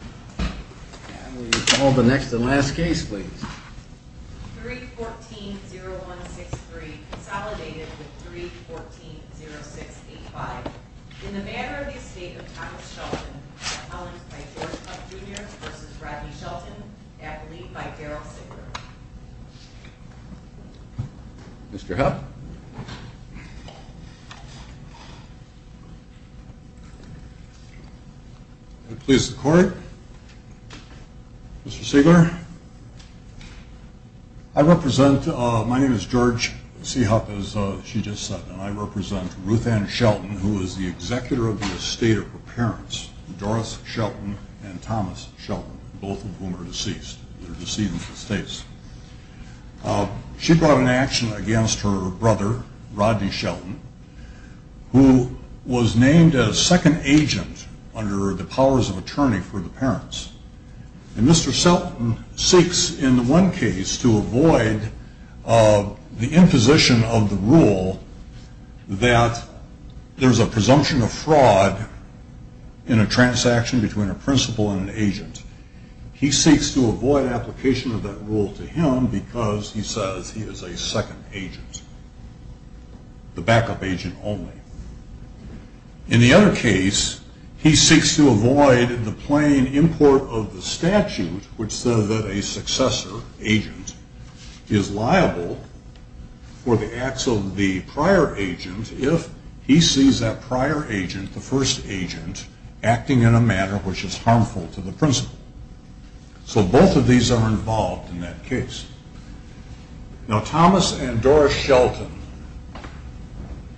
And we call the next and last case, please. 3-14-0163, consolidated with 3-14-0685. In the Matter of the Estate of Thomas Shelton, appellant by George Hupp Jr. v. Rodney Shelton, appellee by Daryl Sigler. Mr. Hupp. Mr. Hupp. Please record. Mr. Sigler. I represent, my name is George C. Hupp, as she just said, and I represent Ruth Ann Shelton, who is the executor of the estate of her parents, Doris Shelton and Thomas Shelton, both of whom are deceased. They're deceased in the States. She brought an action against her brother, Rodney Shelton, who was named as second agent under the powers of attorney for the parents. And Mr. Shelton seeks, in one case, to avoid the imposition of the rule that there's a presumption of fraud in a transaction between a principal and an agent. He seeks to avoid application of that rule to him because he says he is a second agent, the backup agent only. In the other case, he seeks to avoid the plain import of the statute which says that a successor agent is liable for the acts of the prior agent if he sees that prior agent, the first agent, acting in a manner which is harmful to the principal. So both of these are involved in that case. Now Thomas and Doris Shelton,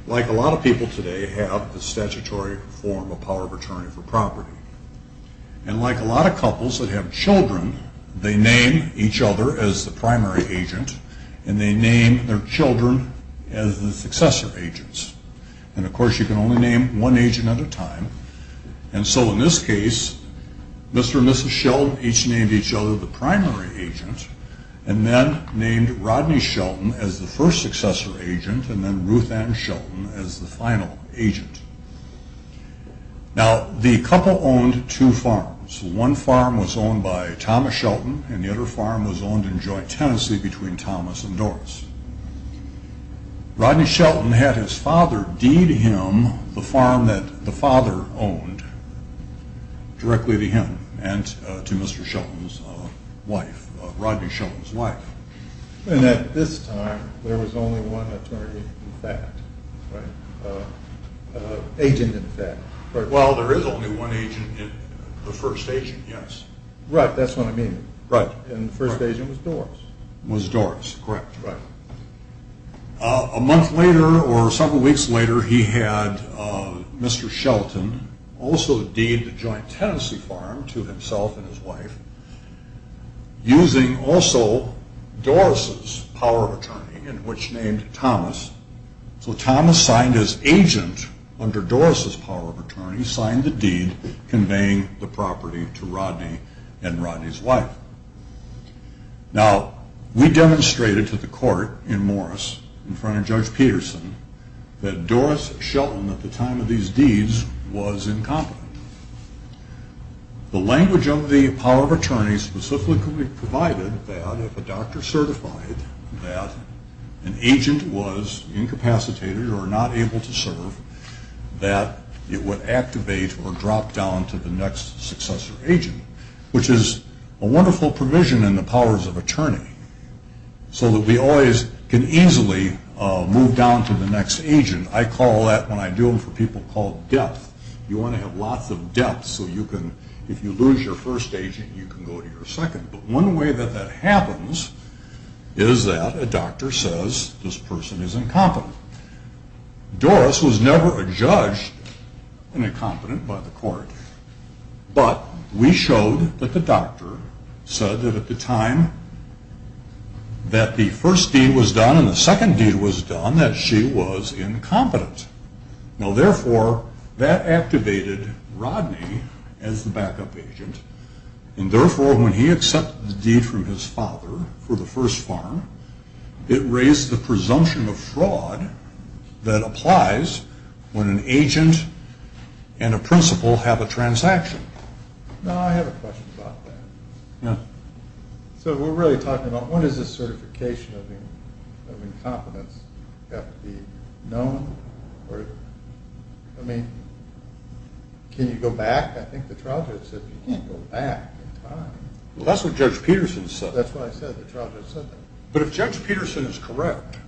like a lot of people today, have the statutory form of power of attorney for property. And like a lot of couples that have children, they name each other as the primary agent and they name their children as the successor agents. And of course you can only name one agent at a time and so in this case, Mr. and Mrs. Shelton each named each other the primary agent and then named Rodney Shelton as the first successor agent and then Ruth Ann Shelton as the final agent. Now the couple owned two farms. One farm was owned by Thomas Shelton and the other farm was owned in joint tenancy between Thomas and Doris. Rodney Shelton had his father deed him the farm that the father owned directly to him and to Mr. Shelton's wife, Rodney Shelton's wife. And at this time there was only one attorney in fact, right? Agent in fact. Well there is only one agent, the first agent, yes. Right, that's what I mean. And the first agent was Doris. Was Doris, correct. A month later or several weeks later he had Mr. Shelton also deed the joint tenancy farm to himself and his wife using also Doris's power of attorney in which named Thomas. So Thomas signed as agent under Doris's power of attorney signed the deed conveying the property to Rodney and Rodney's wife. Now we demonstrated to the court in Morris in front of Judge Peterson that Doris Shelton at the time of these deeds was incompetent. The language of the power of attorney specifically provided that if a doctor certified that an agent was incapacitated or not able to serve that it would activate or drop down to the next successor agent which is a wonderful provision in the powers of attorney so that we always can easily move down to the next agent. I call that when I do them for people called depth. You want to have lots of depth so you can if you lose your first agent you can go to your second. But one way that that happens is that a doctor says this person is incompetent. Doris was never a judge and incompetent by the court but we showed that the doctor said that at the time that the first deed was done and the second deed was done that she was incompetent. Now therefore that activated Rodney as the backup agent and therefore when he accepted the deed from his father for the first farm it raised the presumption of fraud that applies when an agent and a principal have a transaction. Now I have a question about that. Yeah. So we're really talking about what is this certification of incompetence? Does it have to be known? I mean can you go back? I think the trial judge said you can't go back in time. Well that's what Judge Peterson said. That's what I said the trial judge said that. But if Judge Peterson is correct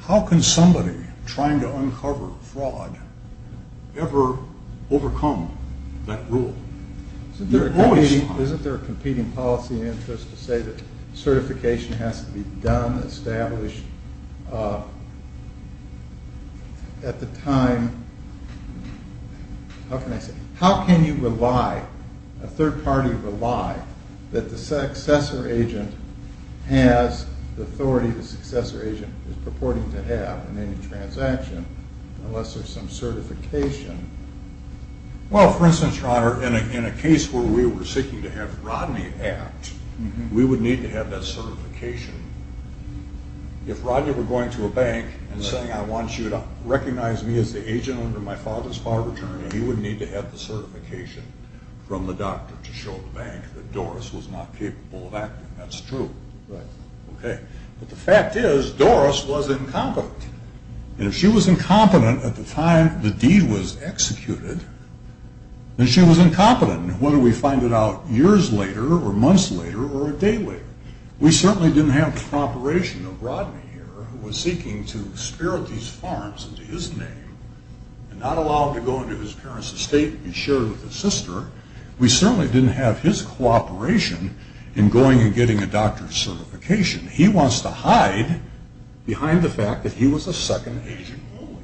how can somebody trying to uncover fraud ever overcome that rule? Isn't there a competing policy interest to say that certification has to be done, established at the time how can I say how can you rely a third party rely that the successor agent has the authority the successor agent is purporting to have in any transaction unless there's some certification? Well for instance your honor in a case where we were seeking to have Rodney act we would need to have that certification. If Rodney were going to a bank and saying I want you to recognize me as the agent under my father's farm attorney he would need to have the certification from the doctor to show the bank that Doris was not capable of acting. That's true. But the fact is Doris was incompetent. And if she was incompetent at the time the deed was executed then she was incompetent whether we find it out years later or months later or a day later. We certainly didn't have the cooperation of Rodney here who was seeking to spirit these farms into his name and not allow him to go into his parents estate and share it with his sister. We certainly didn't have his cooperation in going and getting a doctor's certification. He wants to hide behind the fact that he was a second agent only.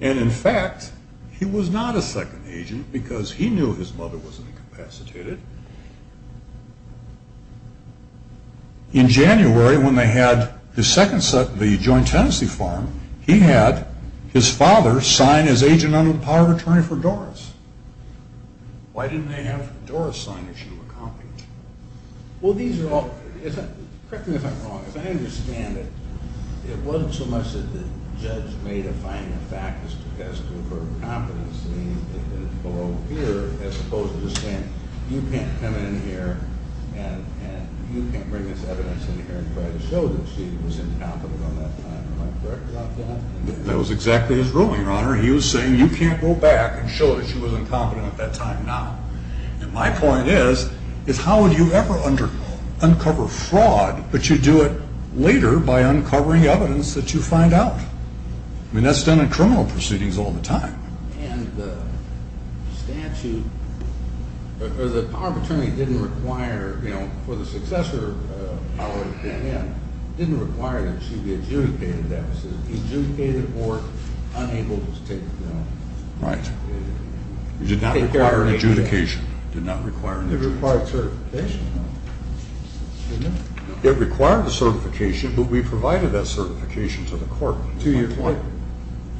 And in fact he was not a second agent because he knew his mother wasn't incapacitated. In January when they had the joint tenancy farm he had his father sign as agent under the power of attorney for Doris. Why didn't they have Doris sign if she were competent? Well these are all correct me if I'm wrong if I understand it it wasn't so much that the judge made a finding of fact as to her competence as opposed to just saying you can't come in here and you can't bring this evidence in here and try to show that she was incompetent at that time. Am I correct about that? That was exactly his ruling your honor. He was saying you can't go back and show that she was incompetent at that time. Now my point is how would you ever uncover fraud but you do it later by uncovering evidence that you find out. I mean that's done in criminal proceedings all the time. And the statute the power of attorney didn't require for the successor didn't require that she be adjudicated adjudicated or unable to take Right. It did not require adjudication. It did not require an adjudication. It required certification. Didn't it? It required a certification but we provided that certification to the court. To your point.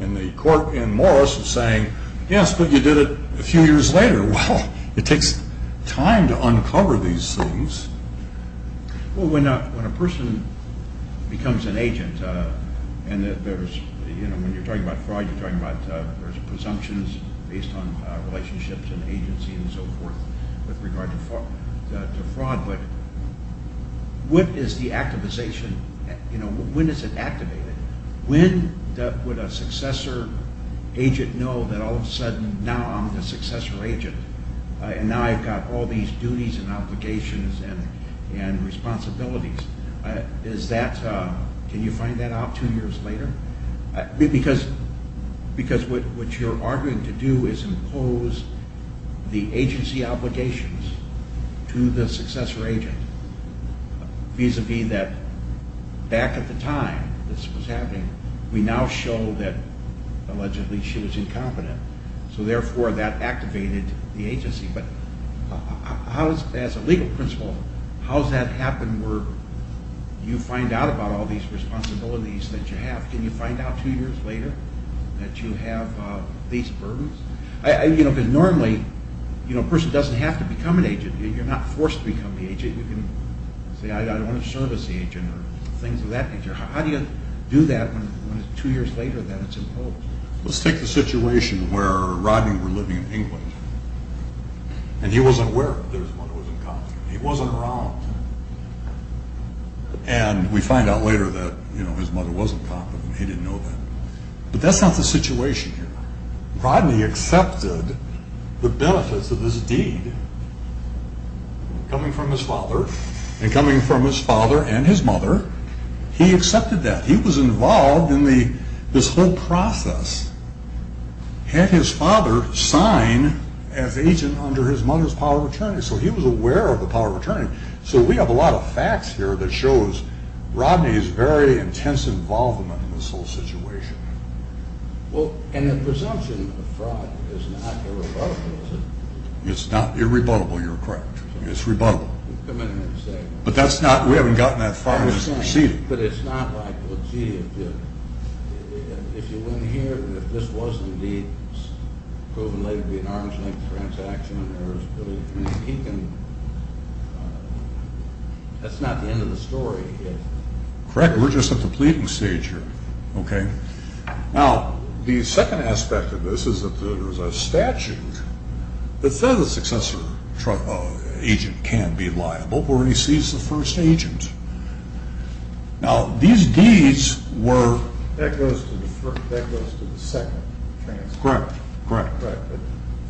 And the court in Morris was saying yes but you did it a few years later. Well it takes time to uncover these things. Well when a person becomes an agent and there's you know when you're talking about fraud you're talking about there's presumptions based on relationships and agency and so forth with regard to fraud but what is the activation you know when is it activated? When would a successor agent know that all of a sudden now I'm the successor agent and now I've got all these duties and obligations and responsibilities. Is that can you find that out two years later? Because what you're arguing to do is impose the agency obligations to the successor agent vis-a-vis that back at the time this was happening we now show that allegedly she was incompetent so therefore that activated the agency but as a legal principle how's that happen where you find out about all these responsibilities that you have can you find out two years later that you have these burdens? You know because normally a person doesn't have to become an agent you're not forced to become the agent you can say I don't want to serve as the agent or things of that nature how do you do that when two years later that it's imposed? Let's take the situation where Rodney were living in England and he wasn't aware that his mother was incompetent he wasn't around and we find out later that his mother wasn't competent he didn't know that but that's not the situation here Rodney accepted the benefits of this deed coming from his father and coming from his father and his mother he accepted that he was involved in this whole process had his father sign as agent under his mother's power of attorney so he was aware of the power of attorney so we have a lot of facts here that shows Rodney's very intense involvement in this whole situation and the presumption of fraud is not irrebuttable is it? It's not irrebuttable, you're correct it's rebuttable but that's not we haven't gotten that far in this proceeding but it's not like if you win here and if this was indeed proven later to be an arm's length transaction and there is really that's not the end of the story correct, we're just at the pleading stage here ok now the second aspect of this is that there is a statute that says a successor agent can be liable when he sees the first agent now these deeds were that goes to the second transaction correct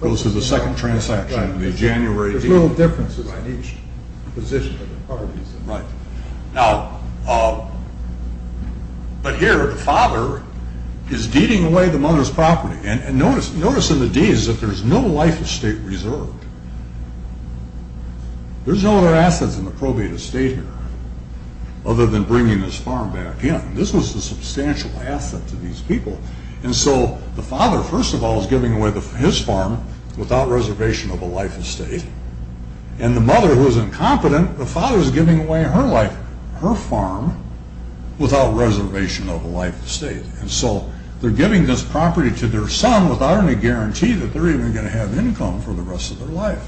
goes to the second transaction in the January deed there's little differences in each position of the properties now but here the father is deeding away the mother's property and notice in the deeds that there is no life estate reserved there's no other assets in the probated estate here other than bringing this farm back in this was a substantial asset to these people and so the father first of all is giving away his farm without reservation of a life estate and the mother who is incompetent the father is giving away her life her farm without reservation of a life estate and so they're giving this property to their son without any guarantee that they're even going to have income for the rest of their life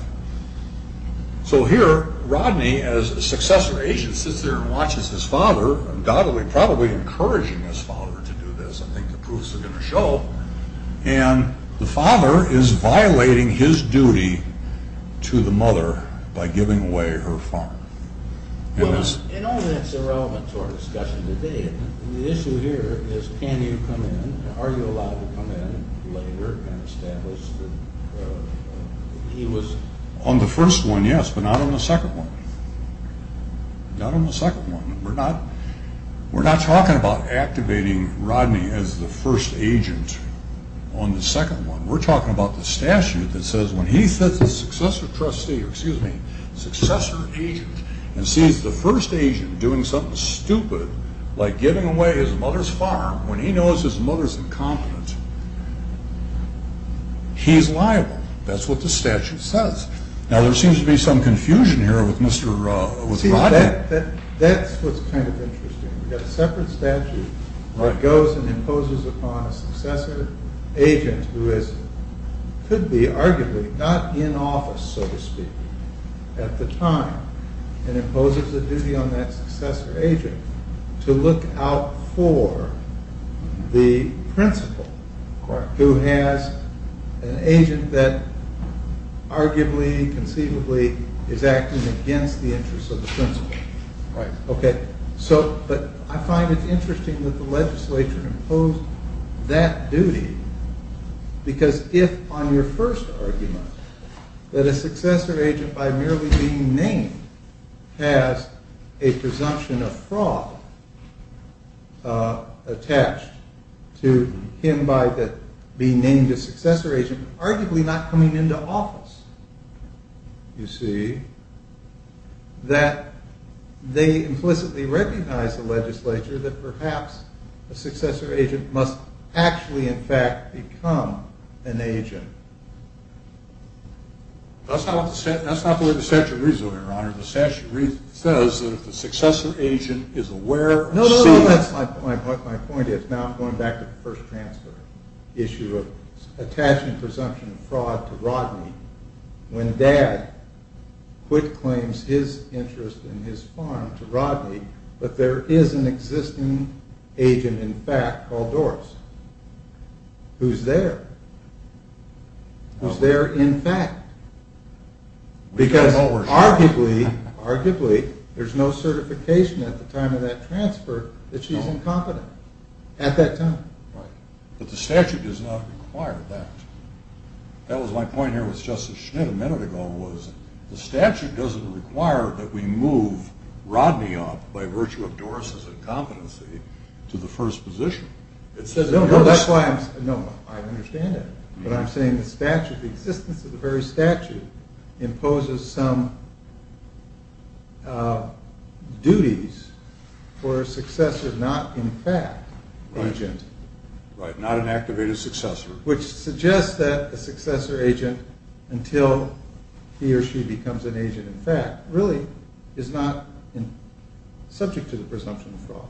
so here Rodney as a successor agent sits there and watches his father undoubtedly probably encouraging his father to do this I think the proofs are going to show and the father is violating his duty to the mother by giving away her farm well now in all that's irrelevant to our discussion today the issue here is can you come in are you allowed to come in later and establish that he was on the first one yes but not on the second one not on the second one we're not talking about activating Rodney as the first agent on the second one we're talking about the statute that says when he sits as successor agent and sees the first agent doing something stupid like giving away his mother's farm when he knows his mother's incompetent he's liable that's what the statute says now there seems to be some confusion here with Rodney that's what's kind of interesting we've got a separate statute that goes and imposes upon a successor agent who is could be arguably not in office so to speak at the time and imposes a duty on that successor agent to look out for the principal who has an agent that arguably conceivably is acting against the interests of the principal but I find it interesting that the legislature imposed that duty because if on your first argument that a successor agent by merely being named has a presumption of fraud attached to him by being named a successor agent arguably not coming into office you see that they implicitly recognize the legislature that perhaps a successor agent must actually in fact become an agent that's not what the statute reads though your honor the statute says that if the successor agent is aware no no no that's my point going back to the first transfer issue of attaching presumption of fraud to Rodney when dad quit claims his interest in his farm to Rodney but there is an existing agent in fact called Doris who's there who's there in fact because arguably arguably there's no certification at the time of that transfer that she's incompetent at that time but the statute does not require that that was my point here with justice schnitt a minute ago the statute doesn't require that we move Rodney up by virtue of Doris's incompetency to the first position no no that's why I understand it but I'm saying the existence of the very statute imposes some duties for a successor not in fact agent right not an activated successor which suggests that a successor agent until he or she becomes an agent in fact really is not subject to the presumption of fraud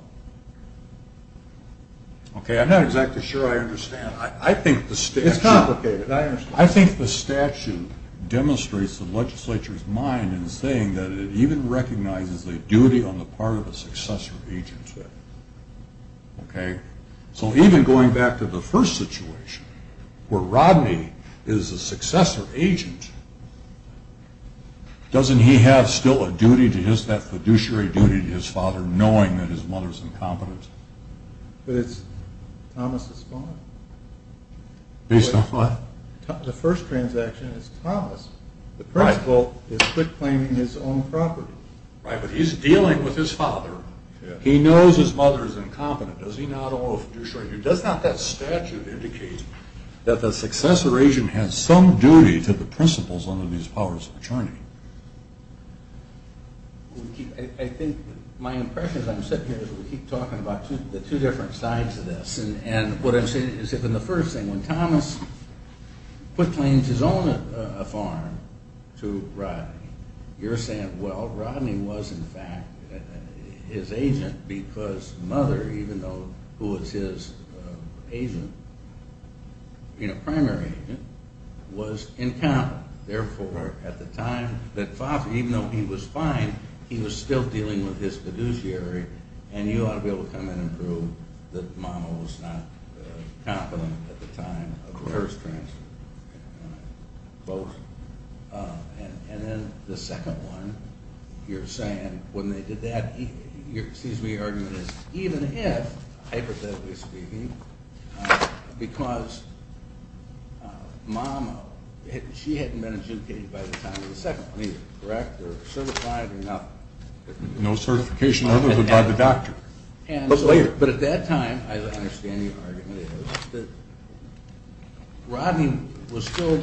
okay I'm not exactly sure I understand I think the statute it's complicated I understand I think the statute demonstrates the legislature's mind in saying that it even recognizes the duty on the part of a successor agent okay so even going back to the first situation where Rodney is a successor agent doesn't he have still a duty to his that fiduciary duty to his father knowing that his mother's incompetent but it's Thomas' fault based on what? the first transaction is Thomas the principal is claiming his own property right but he's dealing with his father he knows his mother's incompetent does he not owe fiduciary duty does not that statute indicate that the successor agent has some duty to the principals under these powers of attorney I think my impression as I'm sitting here is we keep talking about the two different sides of this and what I'm saying is that in the first thing when Thomas claims his own farm to Rodney you're saying well Rodney was in fact his agent because mother even though who was his agent you know primary agent was incompetent therefore at the time that father even though he was fine he was still dealing with his fiduciary and you ought to be able to come in and prove that mama was not competent at the time of the first transaction both and then the second one you're saying when they did that your argument is even if hypothetically speaking because mama she hadn't been adjudicated by the time of the second one either correct or certified or not no certification by the doctor but at that time I understand the argument is that Rodney was still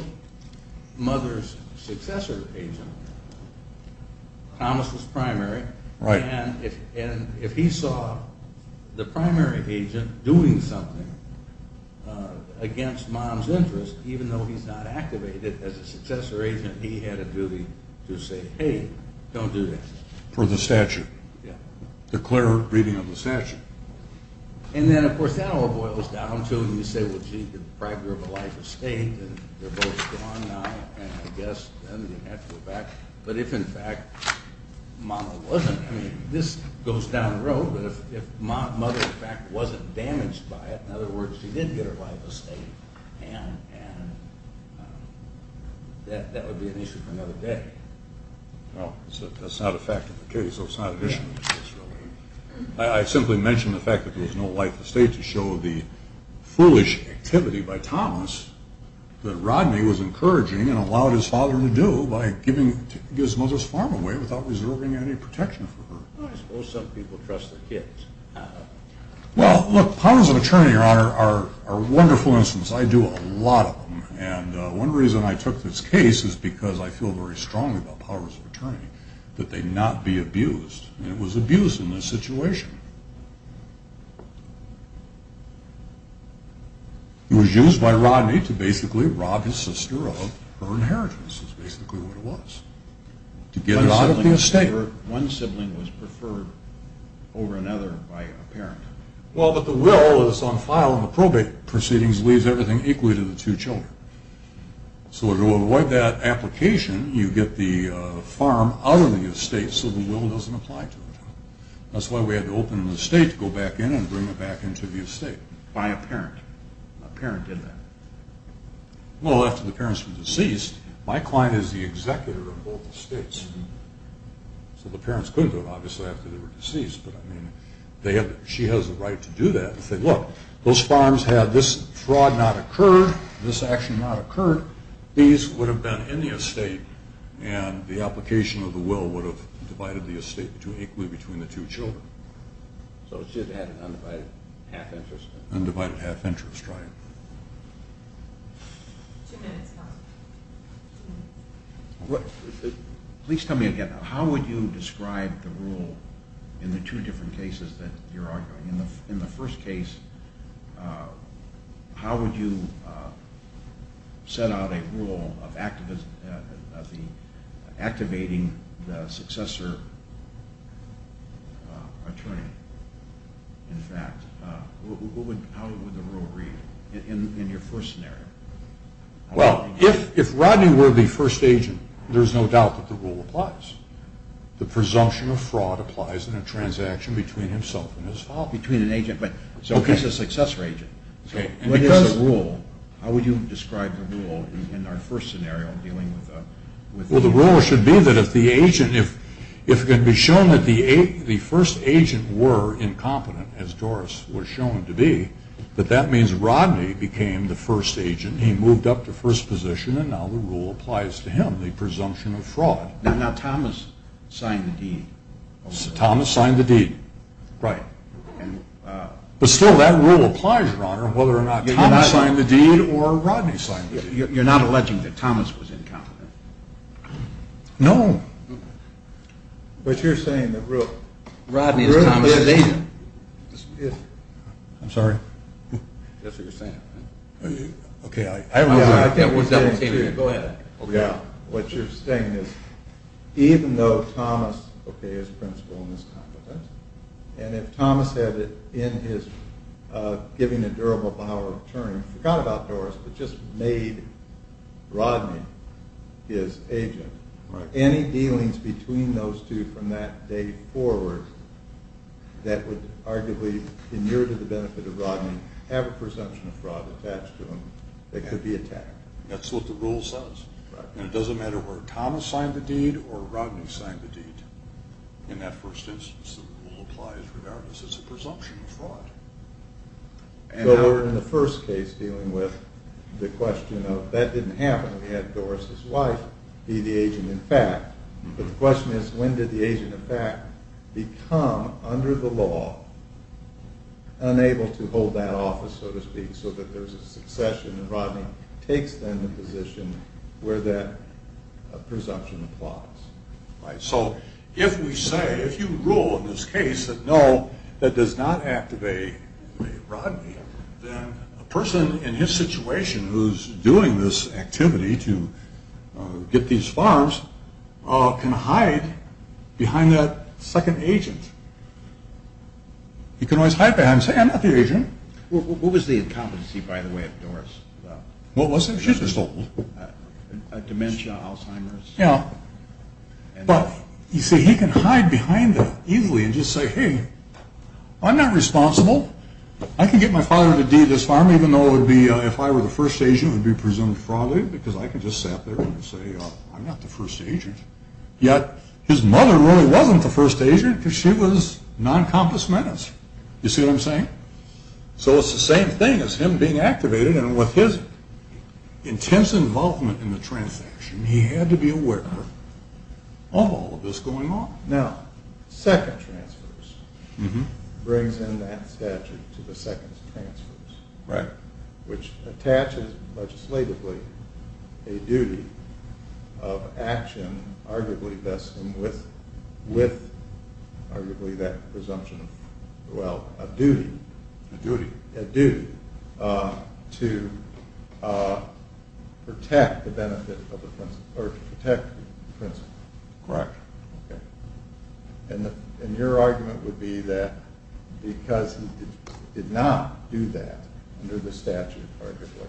mother's successor agent Thomas was primary and if he saw the primary agent doing something against mom's interest even though he's not activated as a successor agent he had a duty to say hey don't do that for the statute declare reading of the statute and then of course that all boils down to you say well gee the primary of a life estate and they're both gone now and I guess but if in fact mama wasn't this goes down the road if mother in fact wasn't damaged by it in other words she did get her life estate and that would be an issue for another day that's not a fact of the case it's not an issue of the case I simply mentioned the fact that there was no life estate to show the foolish activity by Thomas that Rodney was encouraging and allowed his father to do by giving his mother's farm away without reserving any protection for her well look powers of attorney are wonderful instances I do a lot of them and one reason I took this case is because I feel very strongly about powers of attorney that they cannot be abused and it was abused in this situation it was used by Rodney to basically rob his sister of her inheritance is basically what it was to get her out of the estate one sibling was preferred over another by a parent well but the will is on file in the probate proceedings leaves everything equally to the two children so to avoid that application you get the farm out of the estate so the will doesn't apply to it that's why we had to open the estate to go back in and bring it back into the estate by a parent a parent did that well after the parents were deceased my client is the executor of both estates so the parents couldn't do it obviously after they were deceased but I mean she has the right to do that and say look those farms had this fraud not occurred this action not occurred these would have been in the estate and the application of the will would have divided the estate equally between the two children so it's just an undivided half interest undivided half interest please tell me again how would you describe the rule in the two different cases that you're arguing in the first case how would you set out a rule of activating the successor attorney in fact how would the rule read in your first scenario well if Rodney were the first agent there's no doubt that the rule applies the presumption of fraud applies in a transaction between himself and his father between an agent so he's a successor agent what is the rule how would you describe the rule in our first scenario well the rule should be that if the agent if it can be shown that the first agent were incompetent as Doris was shown to be that that means Rodney became the first agent he moved up to first position and now the rule applies to him the presumption of fraud now Thomas signed the deed Thomas signed the deed right but still that rule applies your honor whether or not Thomas signed the deed or Rodney signed the deed you're not alleging that Thomas was incompetent no but you're saying that Rodney is Thomas' agent I'm sorry that's what you're saying okay I agree go ahead what you're saying is even though Thomas okay is principled and is competent and if Thomas had in his giving a durable vow of attorney forgot about Doris but just made Rodney his agent any dealings between those two from that date forward that would arguably be near to the benefit of Rodney have a presumption of fraud attached to them that could be attacked that's what the rule says and it doesn't matter whether Thomas signed the deed or Rodney signed the deed in that first instance the rule applies regardless it's a presumption of fraud so we're in the first case dealing with the question of that didn't happen we had Doris' wife be the agent in fact but the question is when did the agent in fact become under the law unable to hold that office so to speak so that there's a succession and Rodney takes then the position where that presumption of fraud is so if we say if you rule in this case that no that does not activate Rodney then a person in his situation who's doing this activity to get these farms can hide behind that second agent he can always hide behind and say I'm not the agent what was the incompetency by the way of Doris what was it she just told a dementia, Alzheimer's yeah but you see he can hide behind that easily and just say hey I'm not responsible I can get my father to deed this farm even though it would be if I were the first agent it would be presumption of fraud because I could just sit there and say I'm not the first agent yet his mother really wasn't the first agent because she was non-competent you see what I'm saying so it's the same thing as him being activated and with his intense involvement in the transaction he had to be aware of all of this going on. Now second transfers brings in that statute to the second transfers which attaches legislatively a duty of action with arguably that presumption well a duty a duty to protect the benefit of the principle correct and your argument would be that because he did not do that under the statute arguably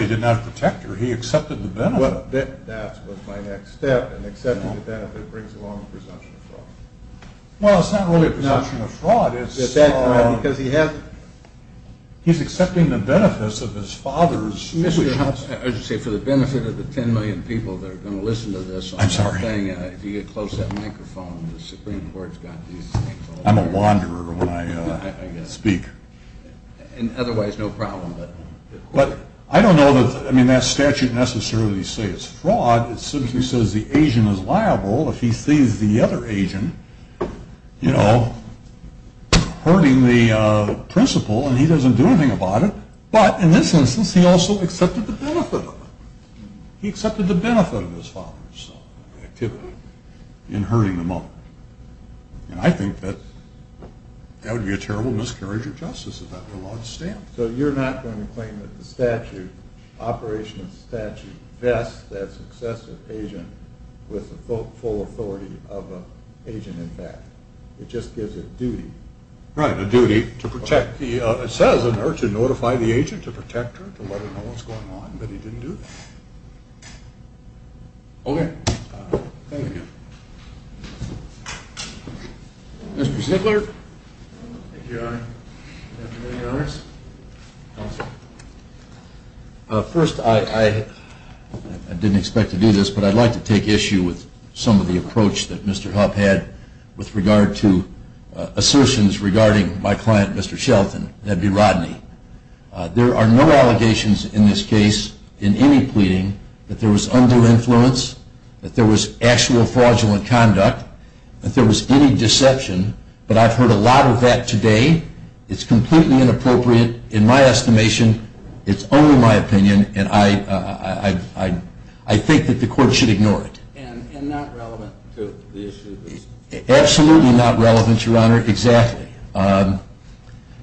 he did not protect her he accepted the benefit that was my next step and accepting the benefit brings along presumption of fraud well it's not really presumption of fraud because he has he's accepting the benefits of his father's for the benefit of the 10 million people that are going to listen to this if you get close to that microphone the supreme court's got these I'm a wanderer when I speak and otherwise no problem but I don't know I mean that statute necessarily says it's fraud it simply says the Asian is liable if he sees the other Asian you know hurting the principle and he doesn't do anything about it but in this instance he also accepted the benefit of it he accepted the benefit of his father's in hurting the mother and I think that that would be a terrible miscarriage of justice if that were allowed to stand so you're not going to claim that the statute operation of the statute vests that successive Asian with the full authority of an Asian in fact it just gives it duty right a duty to protect the it says in there to notify the Asian to protect her to let her know what's going on but he didn't do that okay thank you Mr. Ziegler thank you your honor good afternoon your honors counsel first I didn't expect to do this but I'd like to take issue with some of the approach that Mr. Huff had with regard to assertions regarding my client Mr. Shelton, that'd be Rodney there are no allegations in this case in any pleading that there was undue influence that there was actual fraudulent conduct that there was any deception but I've heard a lot of that today it's completely inappropriate in my estimation it's only my opinion and I think that the court should ignore it and not relevant to the issue absolutely not relevant your honor exactly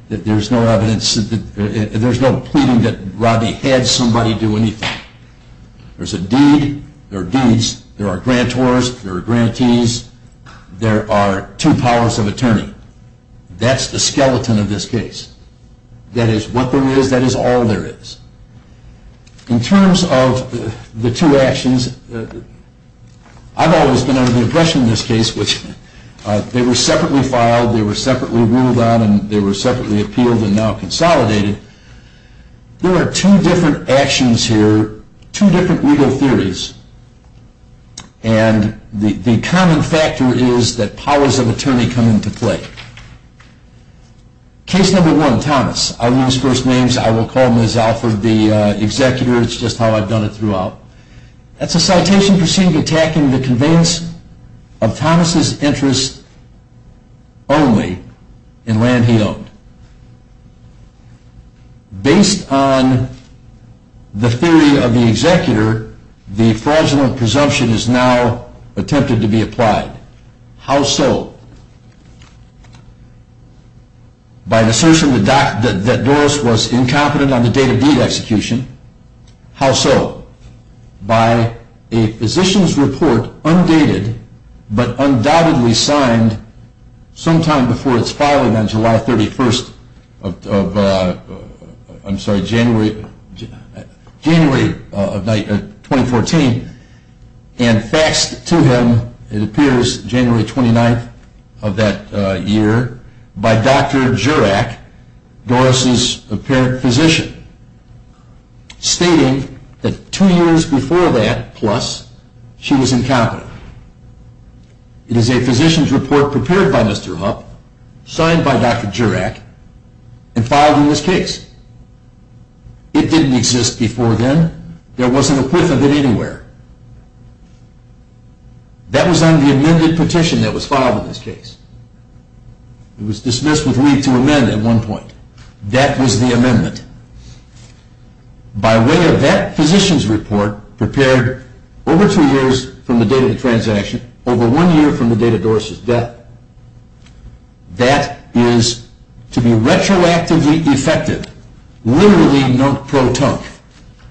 there's no evidence there's no pleading that Rodney had somebody do anything there's a deed there are deeds, there are grantors there are grantees there are two powers of attorney that's the skeleton of this case that is what there is that is all there is in terms of the two actions I've always been under the impression in this case which they were separately filed, they were separately ruled on and they were separately appealed and now consolidated there are two different actions here two different legal theories and the common factor is that powers of attorney come into play case number one Thomas I will use first names, I will call Ms. Alford the executor, it's just how I've done it throughout that's a citation attacking the conveyance of Thomas' interest only in land he owned based on the theory of the executor the fraudulent presumption is now attempted to be applied how so? by an assertion that Doris was incompetent on the date of deed execution how so? by a physician's report undated but undoubtedly signed sometime before its filing on July 31st of January of 2014 and faxed to him it appears January 29th of that year by Dr. Jurack Doris' apparent physician stating that two years before that plus she was incompetent it is a physician's report prepared by Mr. Hupp, signed by Dr. Jurack and filed in this case it didn't exist before then there wasn't a quiff of it anywhere that was on the amended petition that was filed in this case it was dismissed with leave to amend at one point that was the amendment by way of that physician's report prepared over two years from the date of the transaction over one year from the date of Doris' death that is to be retroactively effective, literally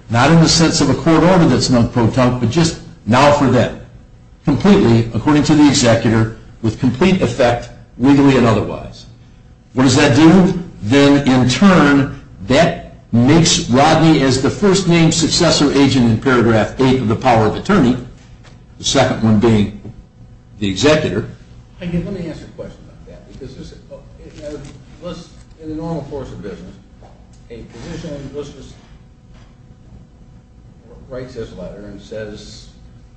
not in the sense of a court order that's non-proton but just now for them completely according to the executor with complete effect legally and otherwise what does that do? then in turn that makes Rodney as the first named successor agent in paragraph 8 of the power of attorney the second one being the executor let me ask you a question about that in the normal course of business a physician writes this letter and says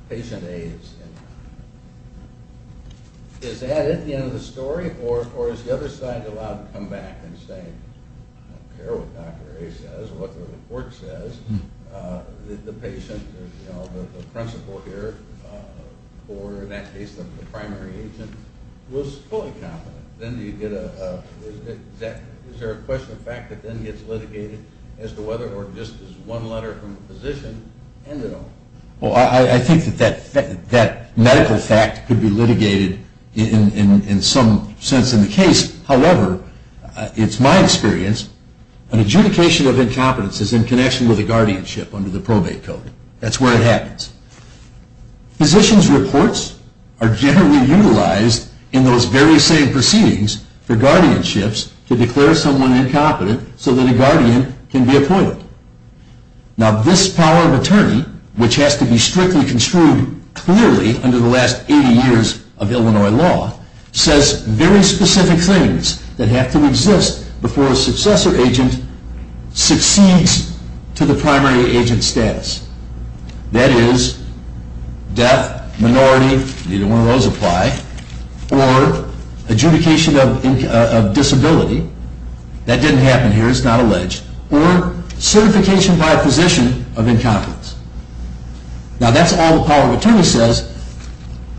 patient A is that it? the end of the story? or is the other side allowed to come back and say I don't care what doctor A says or what the report says the patient the principal here or in that case the primary agent was fully competent then you get a is there a question of fact that then gets litigated as to whether or just as one letter from the physician I think that medical fact could be litigated in some sense in the case, however it's my experience an adjudication of incompetence is in connection with a guardianship under the probate code that's where it happens physicians reports are generally utilized in those very same proceedings for guardianships to declare someone incompetent so that a guardian can be appointed now this power of attorney which has to be strictly construed clearly under the last 80 years of Illinois law says very specific things that have to exist before a successor agent succeeds to the primary agent status that is death, minority either one of those apply or adjudication of disability that didn't happen here, it's not alleged or certification by a physician of incompetence now that's all the power of attorney says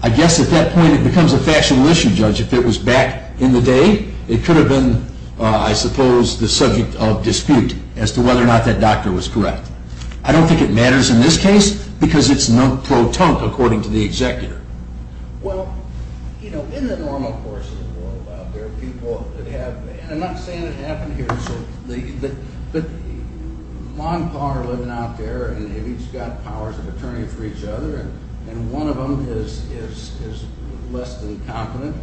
I guess at that point it becomes a factional issue judge if it was back in the day it could have been, I suppose the subject of dispute as to whether or not that doctor was correct I don't think it matters in this case because it's not proton according to the executor well, in the normal course of the world there are people that have and I'm not saying it happened here but on par living out there and they've each got powers of attorney for each other and one of them is less than competent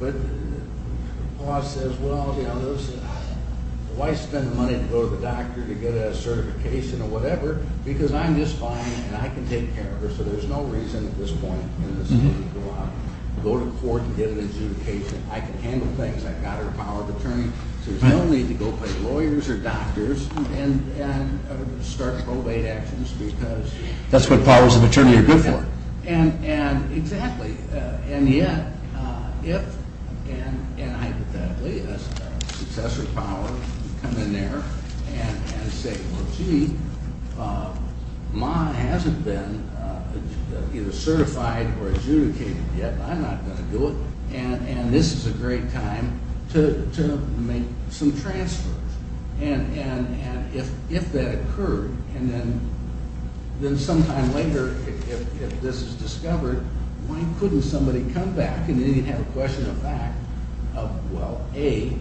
but the law says well why spend the money to go to the doctor to get a certification or whatever because I'm just fine and I can take care of her so there's no reason at this point to go to court and get an adjudication I can handle things, I've got a power of attorney so there's no need to go play lawyers or doctors and start probate actions because that's what powers of attorney are good for and yet if and hypothetically a successor power come in there and say well gee Ma hasn't been either certified or adjudicated yet I'm not going to do it and this is a great time to make some transfers and if that occurred and then sometime later if this is discovered why couldn't somebody come back and have a question of fact of well A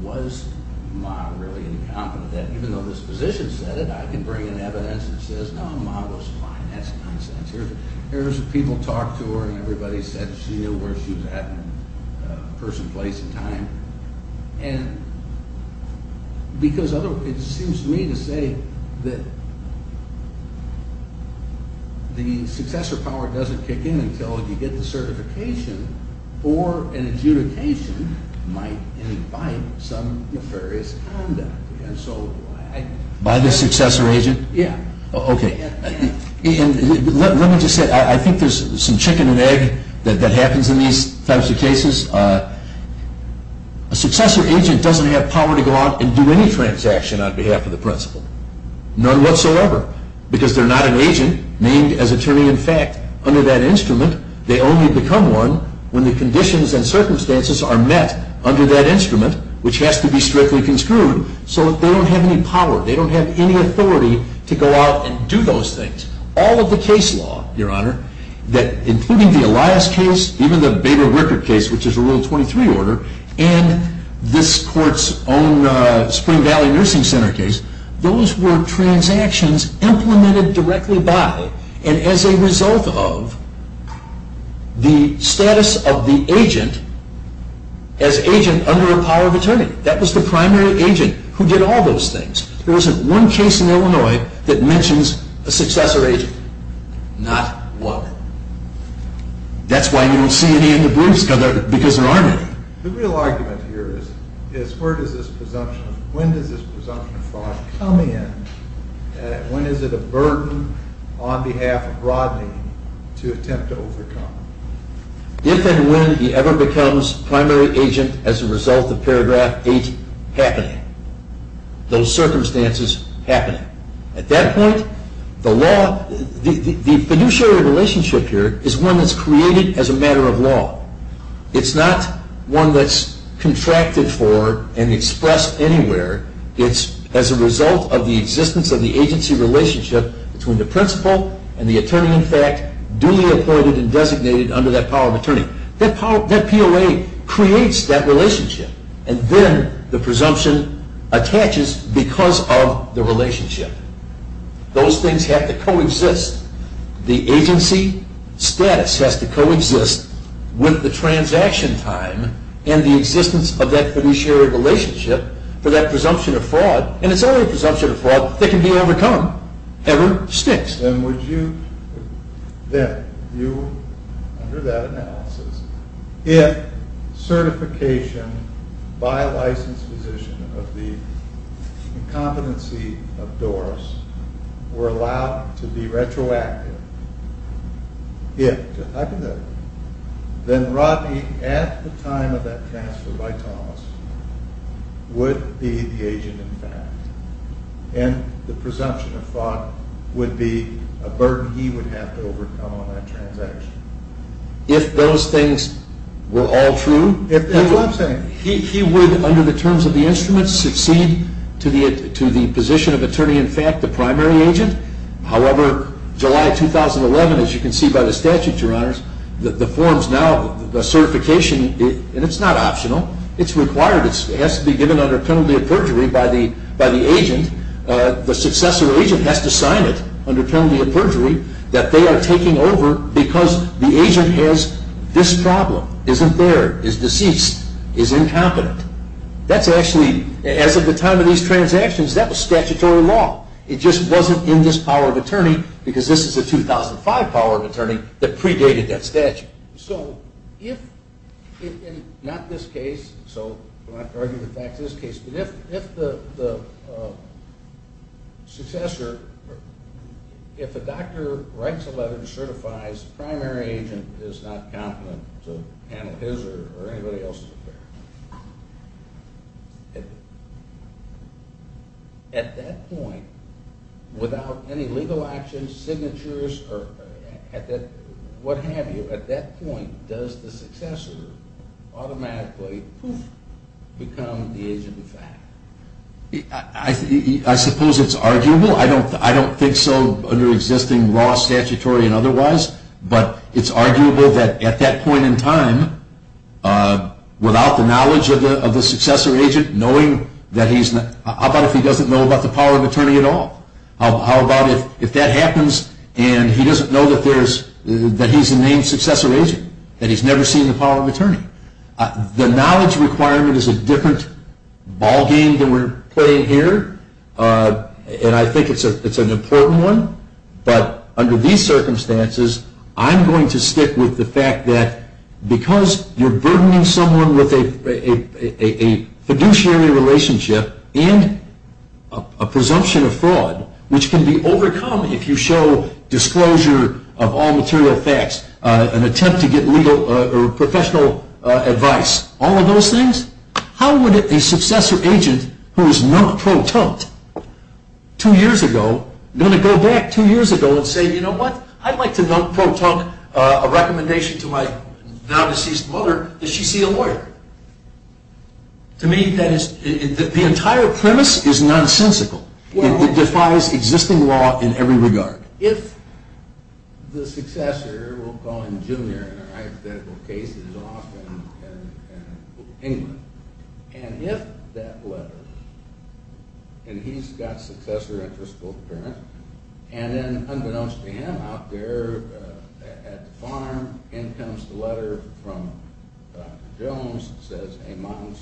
was Ma really incompetent even though this physician said it I can bring in evidence that says Ma was fine, that's nonsense there's people talk to her and everybody said where she was at person, place and time and because it seems to me to say that the successor power doesn't kick in until you get the certification or an adjudication might invite some nefarious conduct and so by the successor agent let me just say I think there's some chicken and egg that happens in these types of cases a successor agent doesn't have power to go out and do any transaction on behalf of the principal none whatsoever because they're not an agent named as attorney in fact under that instrument they only become one when the conditions and circumstances are met under that instrument which has to be strictly construed so they don't have any power they don't have any authority to go out and do those things all of the case law your honor including the Elias case even the Bader-Rickert case which is a rule 23 order and this court's own Spring Valley Nursing Center case those were transactions implemented directly by and as a result of the status of the agent as agent under a power of attorney that was the primary agent who did all those things there isn't one case in Illinois that mentions a successor agent not one that's why you don't see any because there aren't any the real argument here is when does this presumption of fraud come in when is it a burden on behalf of Rodney to attempt to overcome if and when he ever becomes primary agent as a result of paragraph 8 happening those circumstances happening at that point the fiduciary relationship here is one that's created as a matter of law it's not one that's contracted for and expressed anywhere it's as a result of the existence of the agency relationship between the principal and the attorney in fact duly appointed and designated under that power of attorney that POA creates that relationship and then the presumption attaches because of the relationship those things have to coexist the agency status has to coexist with the transaction time and the existence of that fiduciary relationship for that presumption of fraud and it's only a presumption of fraud that can be overcome ever since then would you under that analysis if certification by a licensed physician of the competency of Doris were allowed to be retroactive if then Rodney at the time of that transfer by Thomas would be the agent in fact and the presumption of fraud would be a burden he would have to overcome on that transaction if those things were all true he would under the terms of the instruments succeed to the position of attorney in fact the primary agent however July 2011 as you can see by the statute your honors the forms now the certification and it's not optional it's required it has to be given under penalty of perjury by the agent the successor agent has to sign it under penalty of perjury that they are taking over because the agent has this problem isn't there is deceased is incompetent that's actually as of the time of these transactions that was statutory law it just wasn't in this power of attorney because this is a 2005 power of attorney that predated that statute so if in not this case so we don't have to argue the facts in this case but if the successor if the doctor writes a letter and certifies the primary agent is not competent to handle his or anybody else's at that point without any legal actions signatures what have you at that point does the successor automatically become the agent of fact I suppose it's arguable I don't think so under existing law statutory and otherwise but it's arguable that at that point in time without the knowledge of the successor agent knowing that he's not how about if he doesn't know about the power of attorney at all how about if that happens and he doesn't know that there's that he's a named successor agent that he's never seen the power of attorney the knowledge requirement is a different ball game than we're playing here and I think it's an important one but under these circumstances I'm going to stick with the fact that because you're burdening someone with a fiduciary relationship and a presumption of fraud which can be overcome if you show disclosure of all material facts an attempt to get professional advice all of those things how would a successor agent who is not pro-tunk two years ago say you know what I'd like to my now deceased mother does she see a lawyer to me that is the entire premise is nonsensical it defies existing law in every regard if the successor we'll call him junior in our hypothetical case is off in England and if that letter and he's got successor interest both parents and then unbeknownst to him out there at the farm in comes the letter from Dr. Jones says hey mom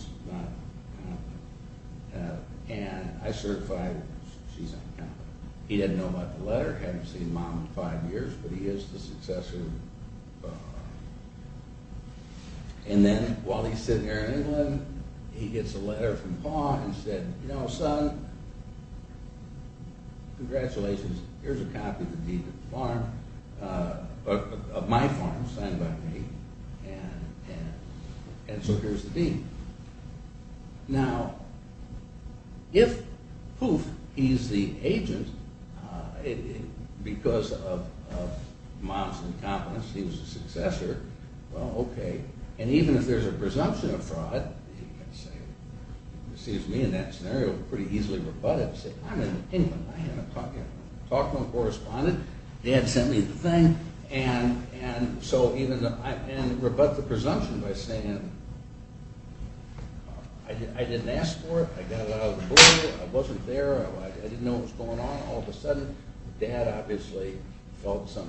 and I certify she's on the counter he didn't know about the letter hadn't seen mom in five years but he is the successor and then while he's sitting there in England he gets a letter from Pa and said you know son congratulations here's a copy of the deed to the farm of my farm signed by me and so here's the deed now if poof he's the agent because of mom's incompetence he was the successor and even if there's a presumption of fraud it seems to me in that scenario pretty easily rebutted anyway I talked to the correspondent dad sent me the thing and so even though I rebut the presumption by saying I didn't ask for it I wasn't there I didn't know what was going on all of a sudden dad obviously felt some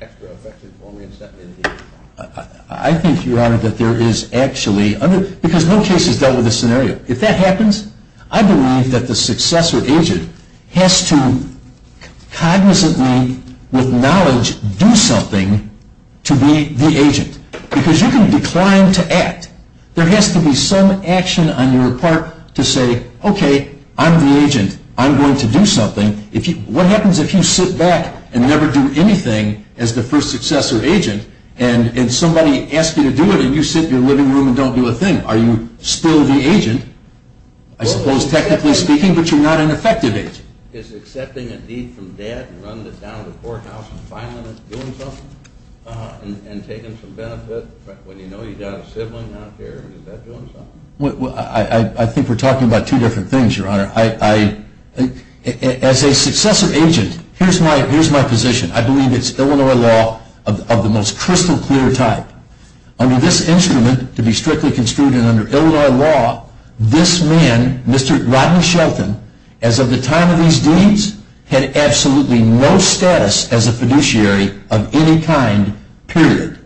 extra affection for me and sent me the deed I think your honor that there is actually because no case has dealt with this scenario if that happens I believe that the successor agent has to cognizantly with knowledge do something to be the agent because you can decline to act there has to be some action on your part to say okay I'm the agent I'm going to do something what happens if you sit back and never do anything as the first successor agent and somebody asks you to do it you sit in your living room and don't do a thing are you still the agent I suppose technically speaking but you're not an effective agent I think we're talking about two different things your honor as a successor agent here's my position I believe it's Illinois law of the most crystal clear type under this instrument to be strictly construed in Illinois law this man Mr. Rodney Shelton as of the time of these deeds had absolutely no status as a fiduciary of any kind period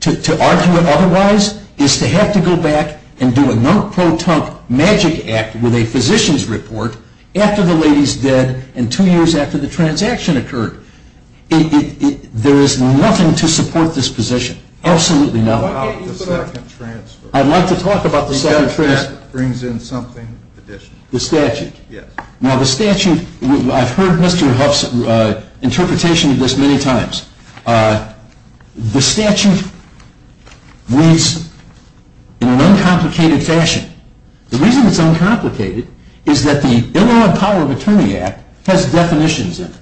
to argue it otherwise is to have to go back and do a non-pro-tunk magic act with a physician's report after the lady's dead and two years after the transaction occurred there is nothing to support this position absolutely nothing I'd like to talk about the second transfer the statute I've heard Mr. Huff's interpretation of this many times the statute reads in an uncomplicated fashion the reason it's uncomplicated is that the Illinois Power of Attorney Act has definitions in it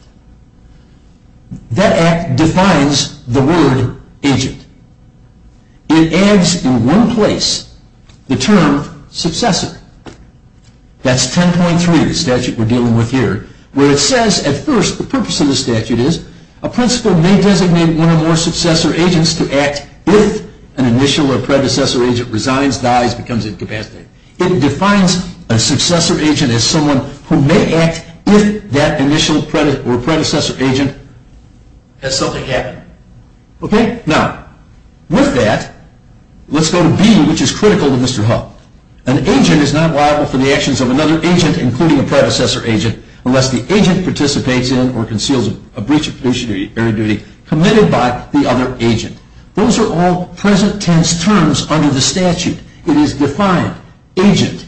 that act defines the word agent it adds in one place the term successor that's 10.3 the statute we're dealing with here where it says at first the purpose of the statute is a principal may designate one or more successor agents to act if an initial or predecessor agent resigns, dies, becomes incapacitated it defines a successor agent as someone who may act if that initial or predecessor agent has something happen okay? now, with that let's go to B, which is critical to Mr. Huff an agent is not liable for the actions of another agent including a predecessor agent unless the agent participates in or conceals a breach of fiduciary duty committed by the other agent those are all present tense terms under the statute it is defined, agent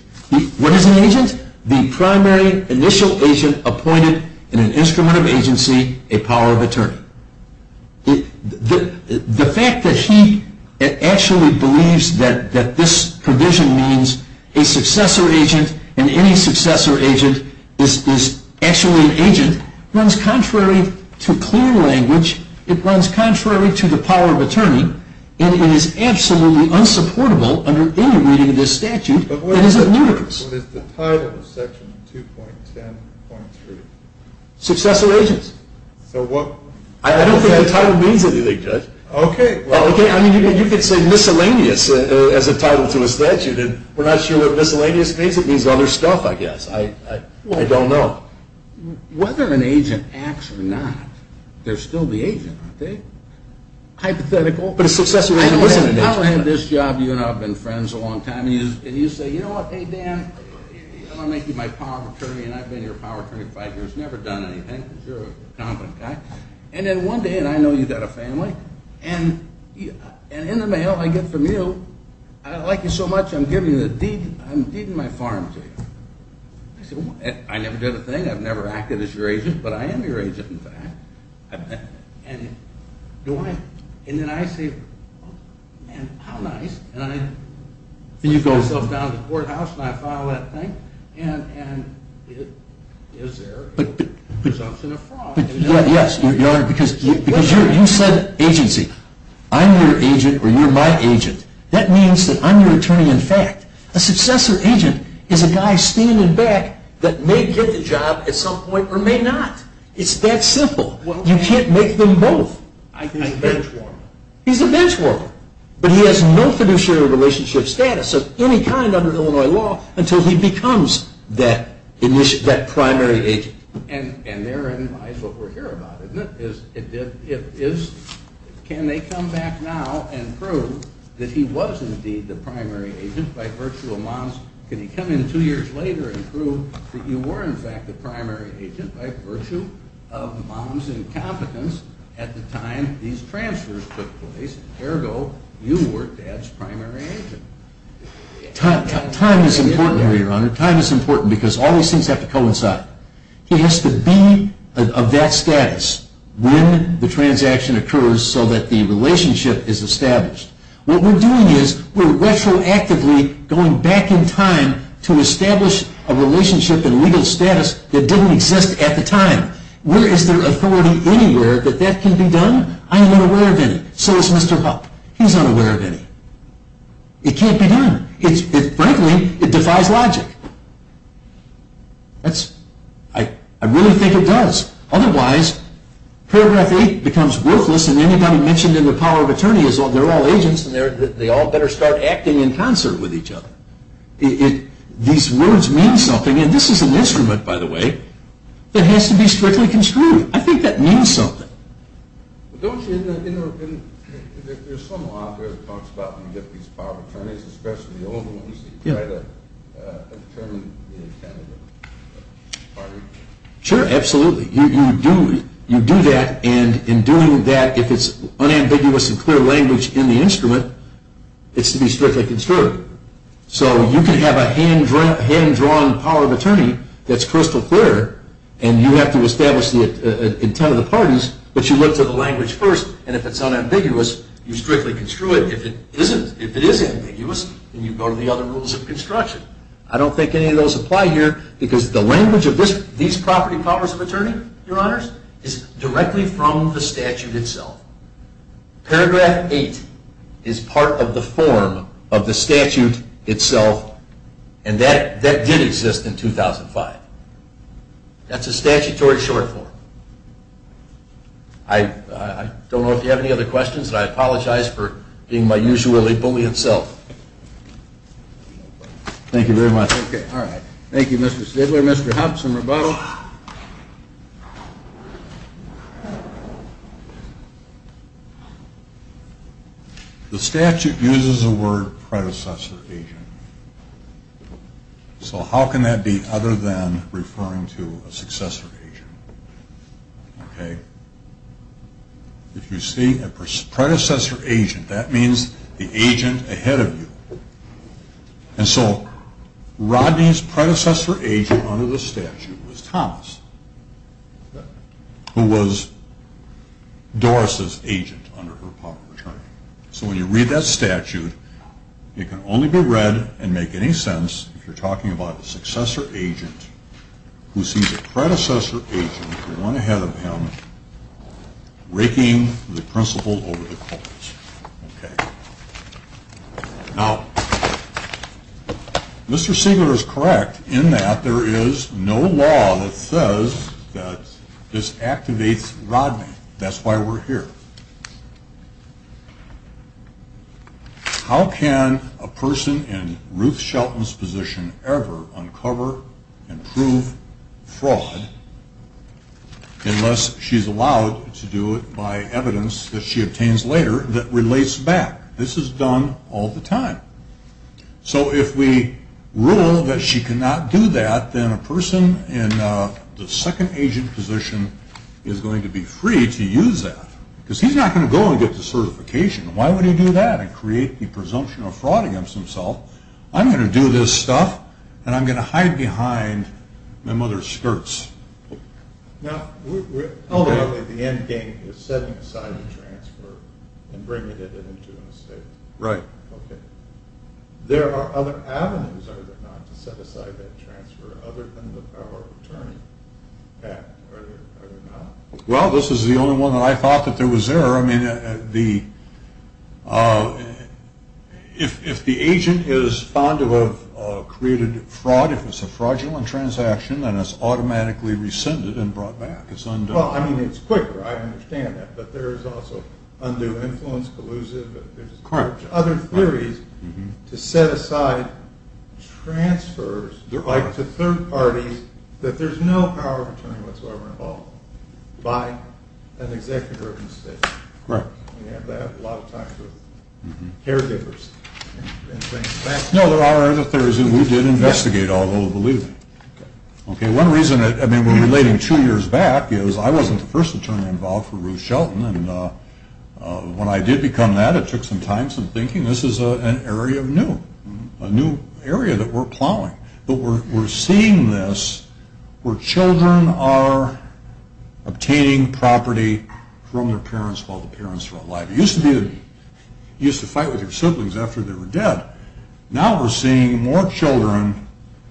what is an agent? the primary initial agent appointed in an instrument of agency a power of attorney the fact that he actually believes that this provision means a successor agent and any successor agent is actually an agent runs contrary to clear language it runs contrary to the power of attorney and it is absolutely unsupportable under any reading of this statute it is ludicrous what is the title of section 2.10.3? successor agents I don't think the title means anything judge you could say miscellaneous as a title to a statute and we're not sure what miscellaneous means it means other stuff I guess I don't know whether an agent acts or not they're still the agent aren't they? I don't have this job you and I have been friends a long time and you say, you know what, hey Dan I'm going to make you my power of attorney and I've been your power of attorney for five years never done anything because you're a competent guy and then one day, and I know you've got a family and in the mail I get from you I like you so much I'm giving you the deed I'm deeding my farm to you I never did a thing I've never acted as your agent but I am your agent in fact and then I say how nice and I push myself down to the courthouse and I file that thing and it is there but but yes because you said agency I'm your agent or you're my agent that means that I'm your attorney in fact a successor agent is a guy standing back that may get the job at some point or may not it's that simple you can't make them both he's a bench worker but he has no fiduciary relationship status of any kind under Illinois law until he becomes that primary agent and therein lies what we're here about isn't it? can they come back now and prove that he was indeed the primary agent by virtue of mom's can he come in two years later and prove that you were in fact the primary agent by virtue of mom's incompetence at the time these transfers took place ergo you were dad's primary agent time is important here your honor time is important because all these things have to coincide he has to be of that status when the transaction occurs so that the relationship is established what we're doing is we're retroactively going back in time to establish a relationship and legal status that didn't exist at the time where is there authority anywhere that that can be done I am unaware of any so is Mr. Hupp he's unaware of any it can't be done frankly it defies logic I really think it does otherwise paragraph 8 becomes worthless and anybody mentioned in the power of attorney they're all agents and they all better start acting in concert with each other these words mean something and this is an instrument by the way that has to be strictly construed I think that means something there's some law that talks about when you get these power of attorneys especially the old ones that try to determine the intent of the party sure absolutely you do that and in doing that if it's unambiguous and clear language in the instrument it's to be strictly construed so you can have a hand drawn power of attorney that's crystal clear and you have to establish the intent of the parties but you look to the language first and if it's unambiguous you strictly construe it if it is ambiguous you go to the other rules of construction I don't think any of those apply here because the language of these property powers of attorney is directly from the statute itself paragraph 8 is part of the form of the statute itself and that did exist in 2005 that's a statutory short form I don't know if you have any other questions and I apologize for being my usually bully itself thank you very much thank you Mr. Stidler Mr. Hobson the statute uses the word predecessor agent so how can that be other than referring to a successor agent okay if you see a predecessor agent that means the agent ahead of you and so Rodney's predecessor agent under the statute was Thomas who was Doris's agent under her power of attorney so when you read that statute it can only be read and make any sense if you're talking about a successor agent who sees a predecessor agent one ahead of him raking the principle over the cause okay now Mr. Stidler is correct in that there is no law that says that this activates Rodney that's why we're here how can a person in Ruth Shelton's position ever uncover and prove fraud unless she's allowed to do it by evidence that she obtains later that relates back this is done all the time so if we rule that she cannot do that then a person in the second agent position is going to be free to use that because he's not going to go and get the certification why would he do that and create the presumption of fraud against himself I'm going to do this stuff and I'm going to hide behind my mother's skirts now the end game is setting aside the transfer and bringing it into an estate right there are other avenues are there not to set aside that transfer other than the power of attorney are there not well this is the only one that I thought that there was there if the agent is found to have created fraud if it's a fraudulent transaction then it's automatically rescinded and brought back it's undone it's quicker I understand that but there's also undue influence collusive other theories to set aside transfers to third parties that there's no power of attorney what so ever involved by an executive of an estate right we have to have a lot of talks with caregivers and things no there are other theories that we did investigate although believe me one reason we're relating two years back is I wasn't the first attorney involved for Ruth Shelton when I did become that it took some time some thinking this is an area of new a new area that we're plowing but we're seeing this where children are obtaining property from their parents while the parents are alive it used to be you used to fight with your siblings after they were dead now we're seeing more children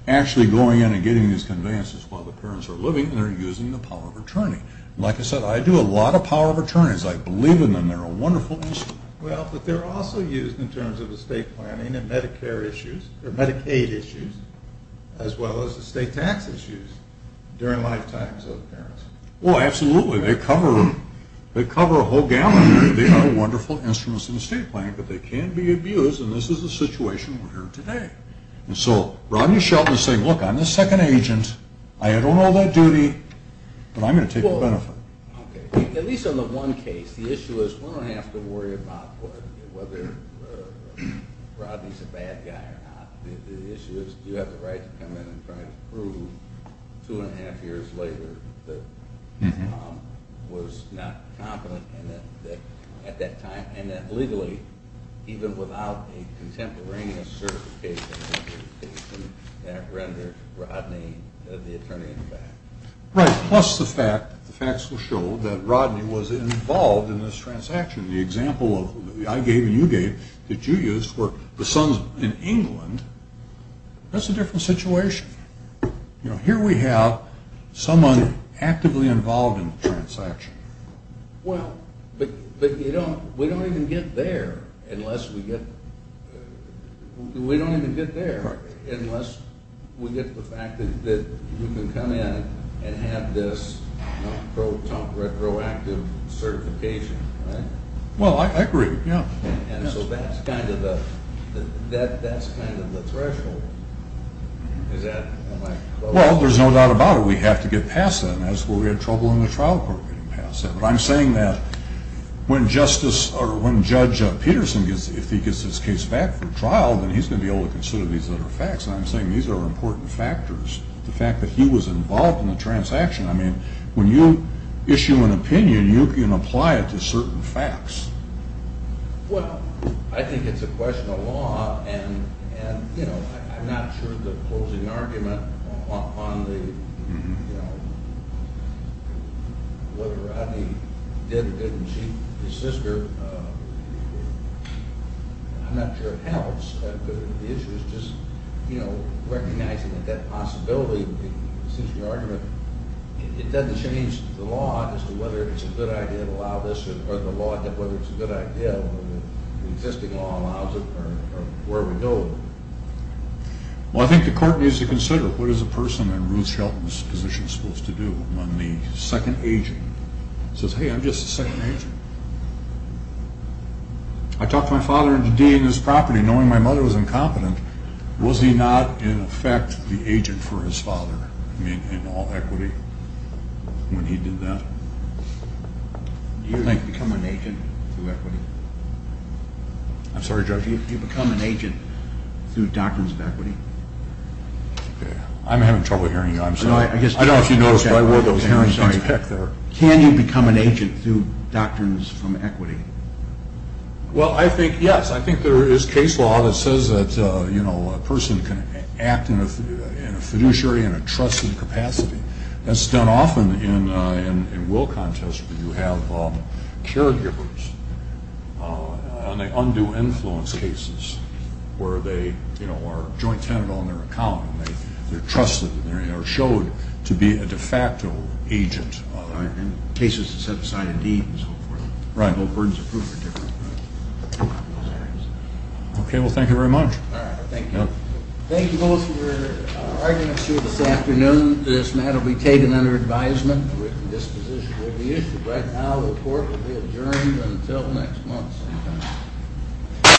actually going in and getting these conveyances while the parents are living and they're using the power of attorney like I said I do a lot of power of attorneys I believe in them and they're a wonderful instrument well but they're also used in terms of estate planning and medicare issues or medicaid issues as well as estate tax issues during lifetimes of parents well absolutely they cover a whole gamut they are wonderful instruments in estate planning but they can be abused and this is the situation we're in today so Rodney Shelton is saying look I'm the second agent I don't know that duty but I'm going to take the benefit at least on the one case the issue is we don't have to worry about whether Rodney's a bad guy or not the issue is do you have the right to come in and try to prove two and a half years later that he was not competent at that time and that legally even without a contemporaneous certification that rendered Rodney the attorney in the back right plus the fact that Rodney was involved in this transaction the example I gave and you gave that you used for the sons in England that's a different situation here we have someone actively involved in the transaction well but we don't even get there unless we get we don't even get there unless we get the fact that you can come in and have this retroactive certification well I agree yeah that's kind of the threshold well there's no doubt about it we have to get past that that's where we had trouble in the trial court I'm saying that when Judge Peterson if he gets his case back for trial then he's going to be able to consider these other facts and I'm saying these are important factors the fact that he was involved in the transaction I mean when you issue an opinion you can apply it to certain facts well I think it's a question of law and you know I'm not sure the closing argument on the you know whether Rodney did or didn't cheat his sister I'm not sure it helps the issue is just you know recognizing that that possibility since your argument it doesn't change the law as to whether it's a good idea to allow this or the law as to whether it's a good idea whether the existing law allows it or where we go well I think the court needs to consider what is a person in Ruth Shelton's position supposed to do when the second agent says hey I'm just the second agent I talked to my mother was incompetent was he not in effect the agent for his father in all equity when he did that do you think you become an agent through equity I'm sorry judge do you become an agent through doctrines of equity I'm having trouble hearing you I'm sorry I don't know if you noticed but I wore those hearing sense back there can you become an agent through doctrines from equity well I think yes I think there is case law that says that a person can act in a fiduciary in a trusted capacity that's done often in will contests where you have caregivers and they undo influence cases where they are joint tenant on their account they're trusted they're showed to be a de facto agent cases that set aside a deed and so forth right okay well thank you very much thank you both for your arguments this afternoon this matter will be taken under advisement written disposition will be issued right now the court will be adjourned until next month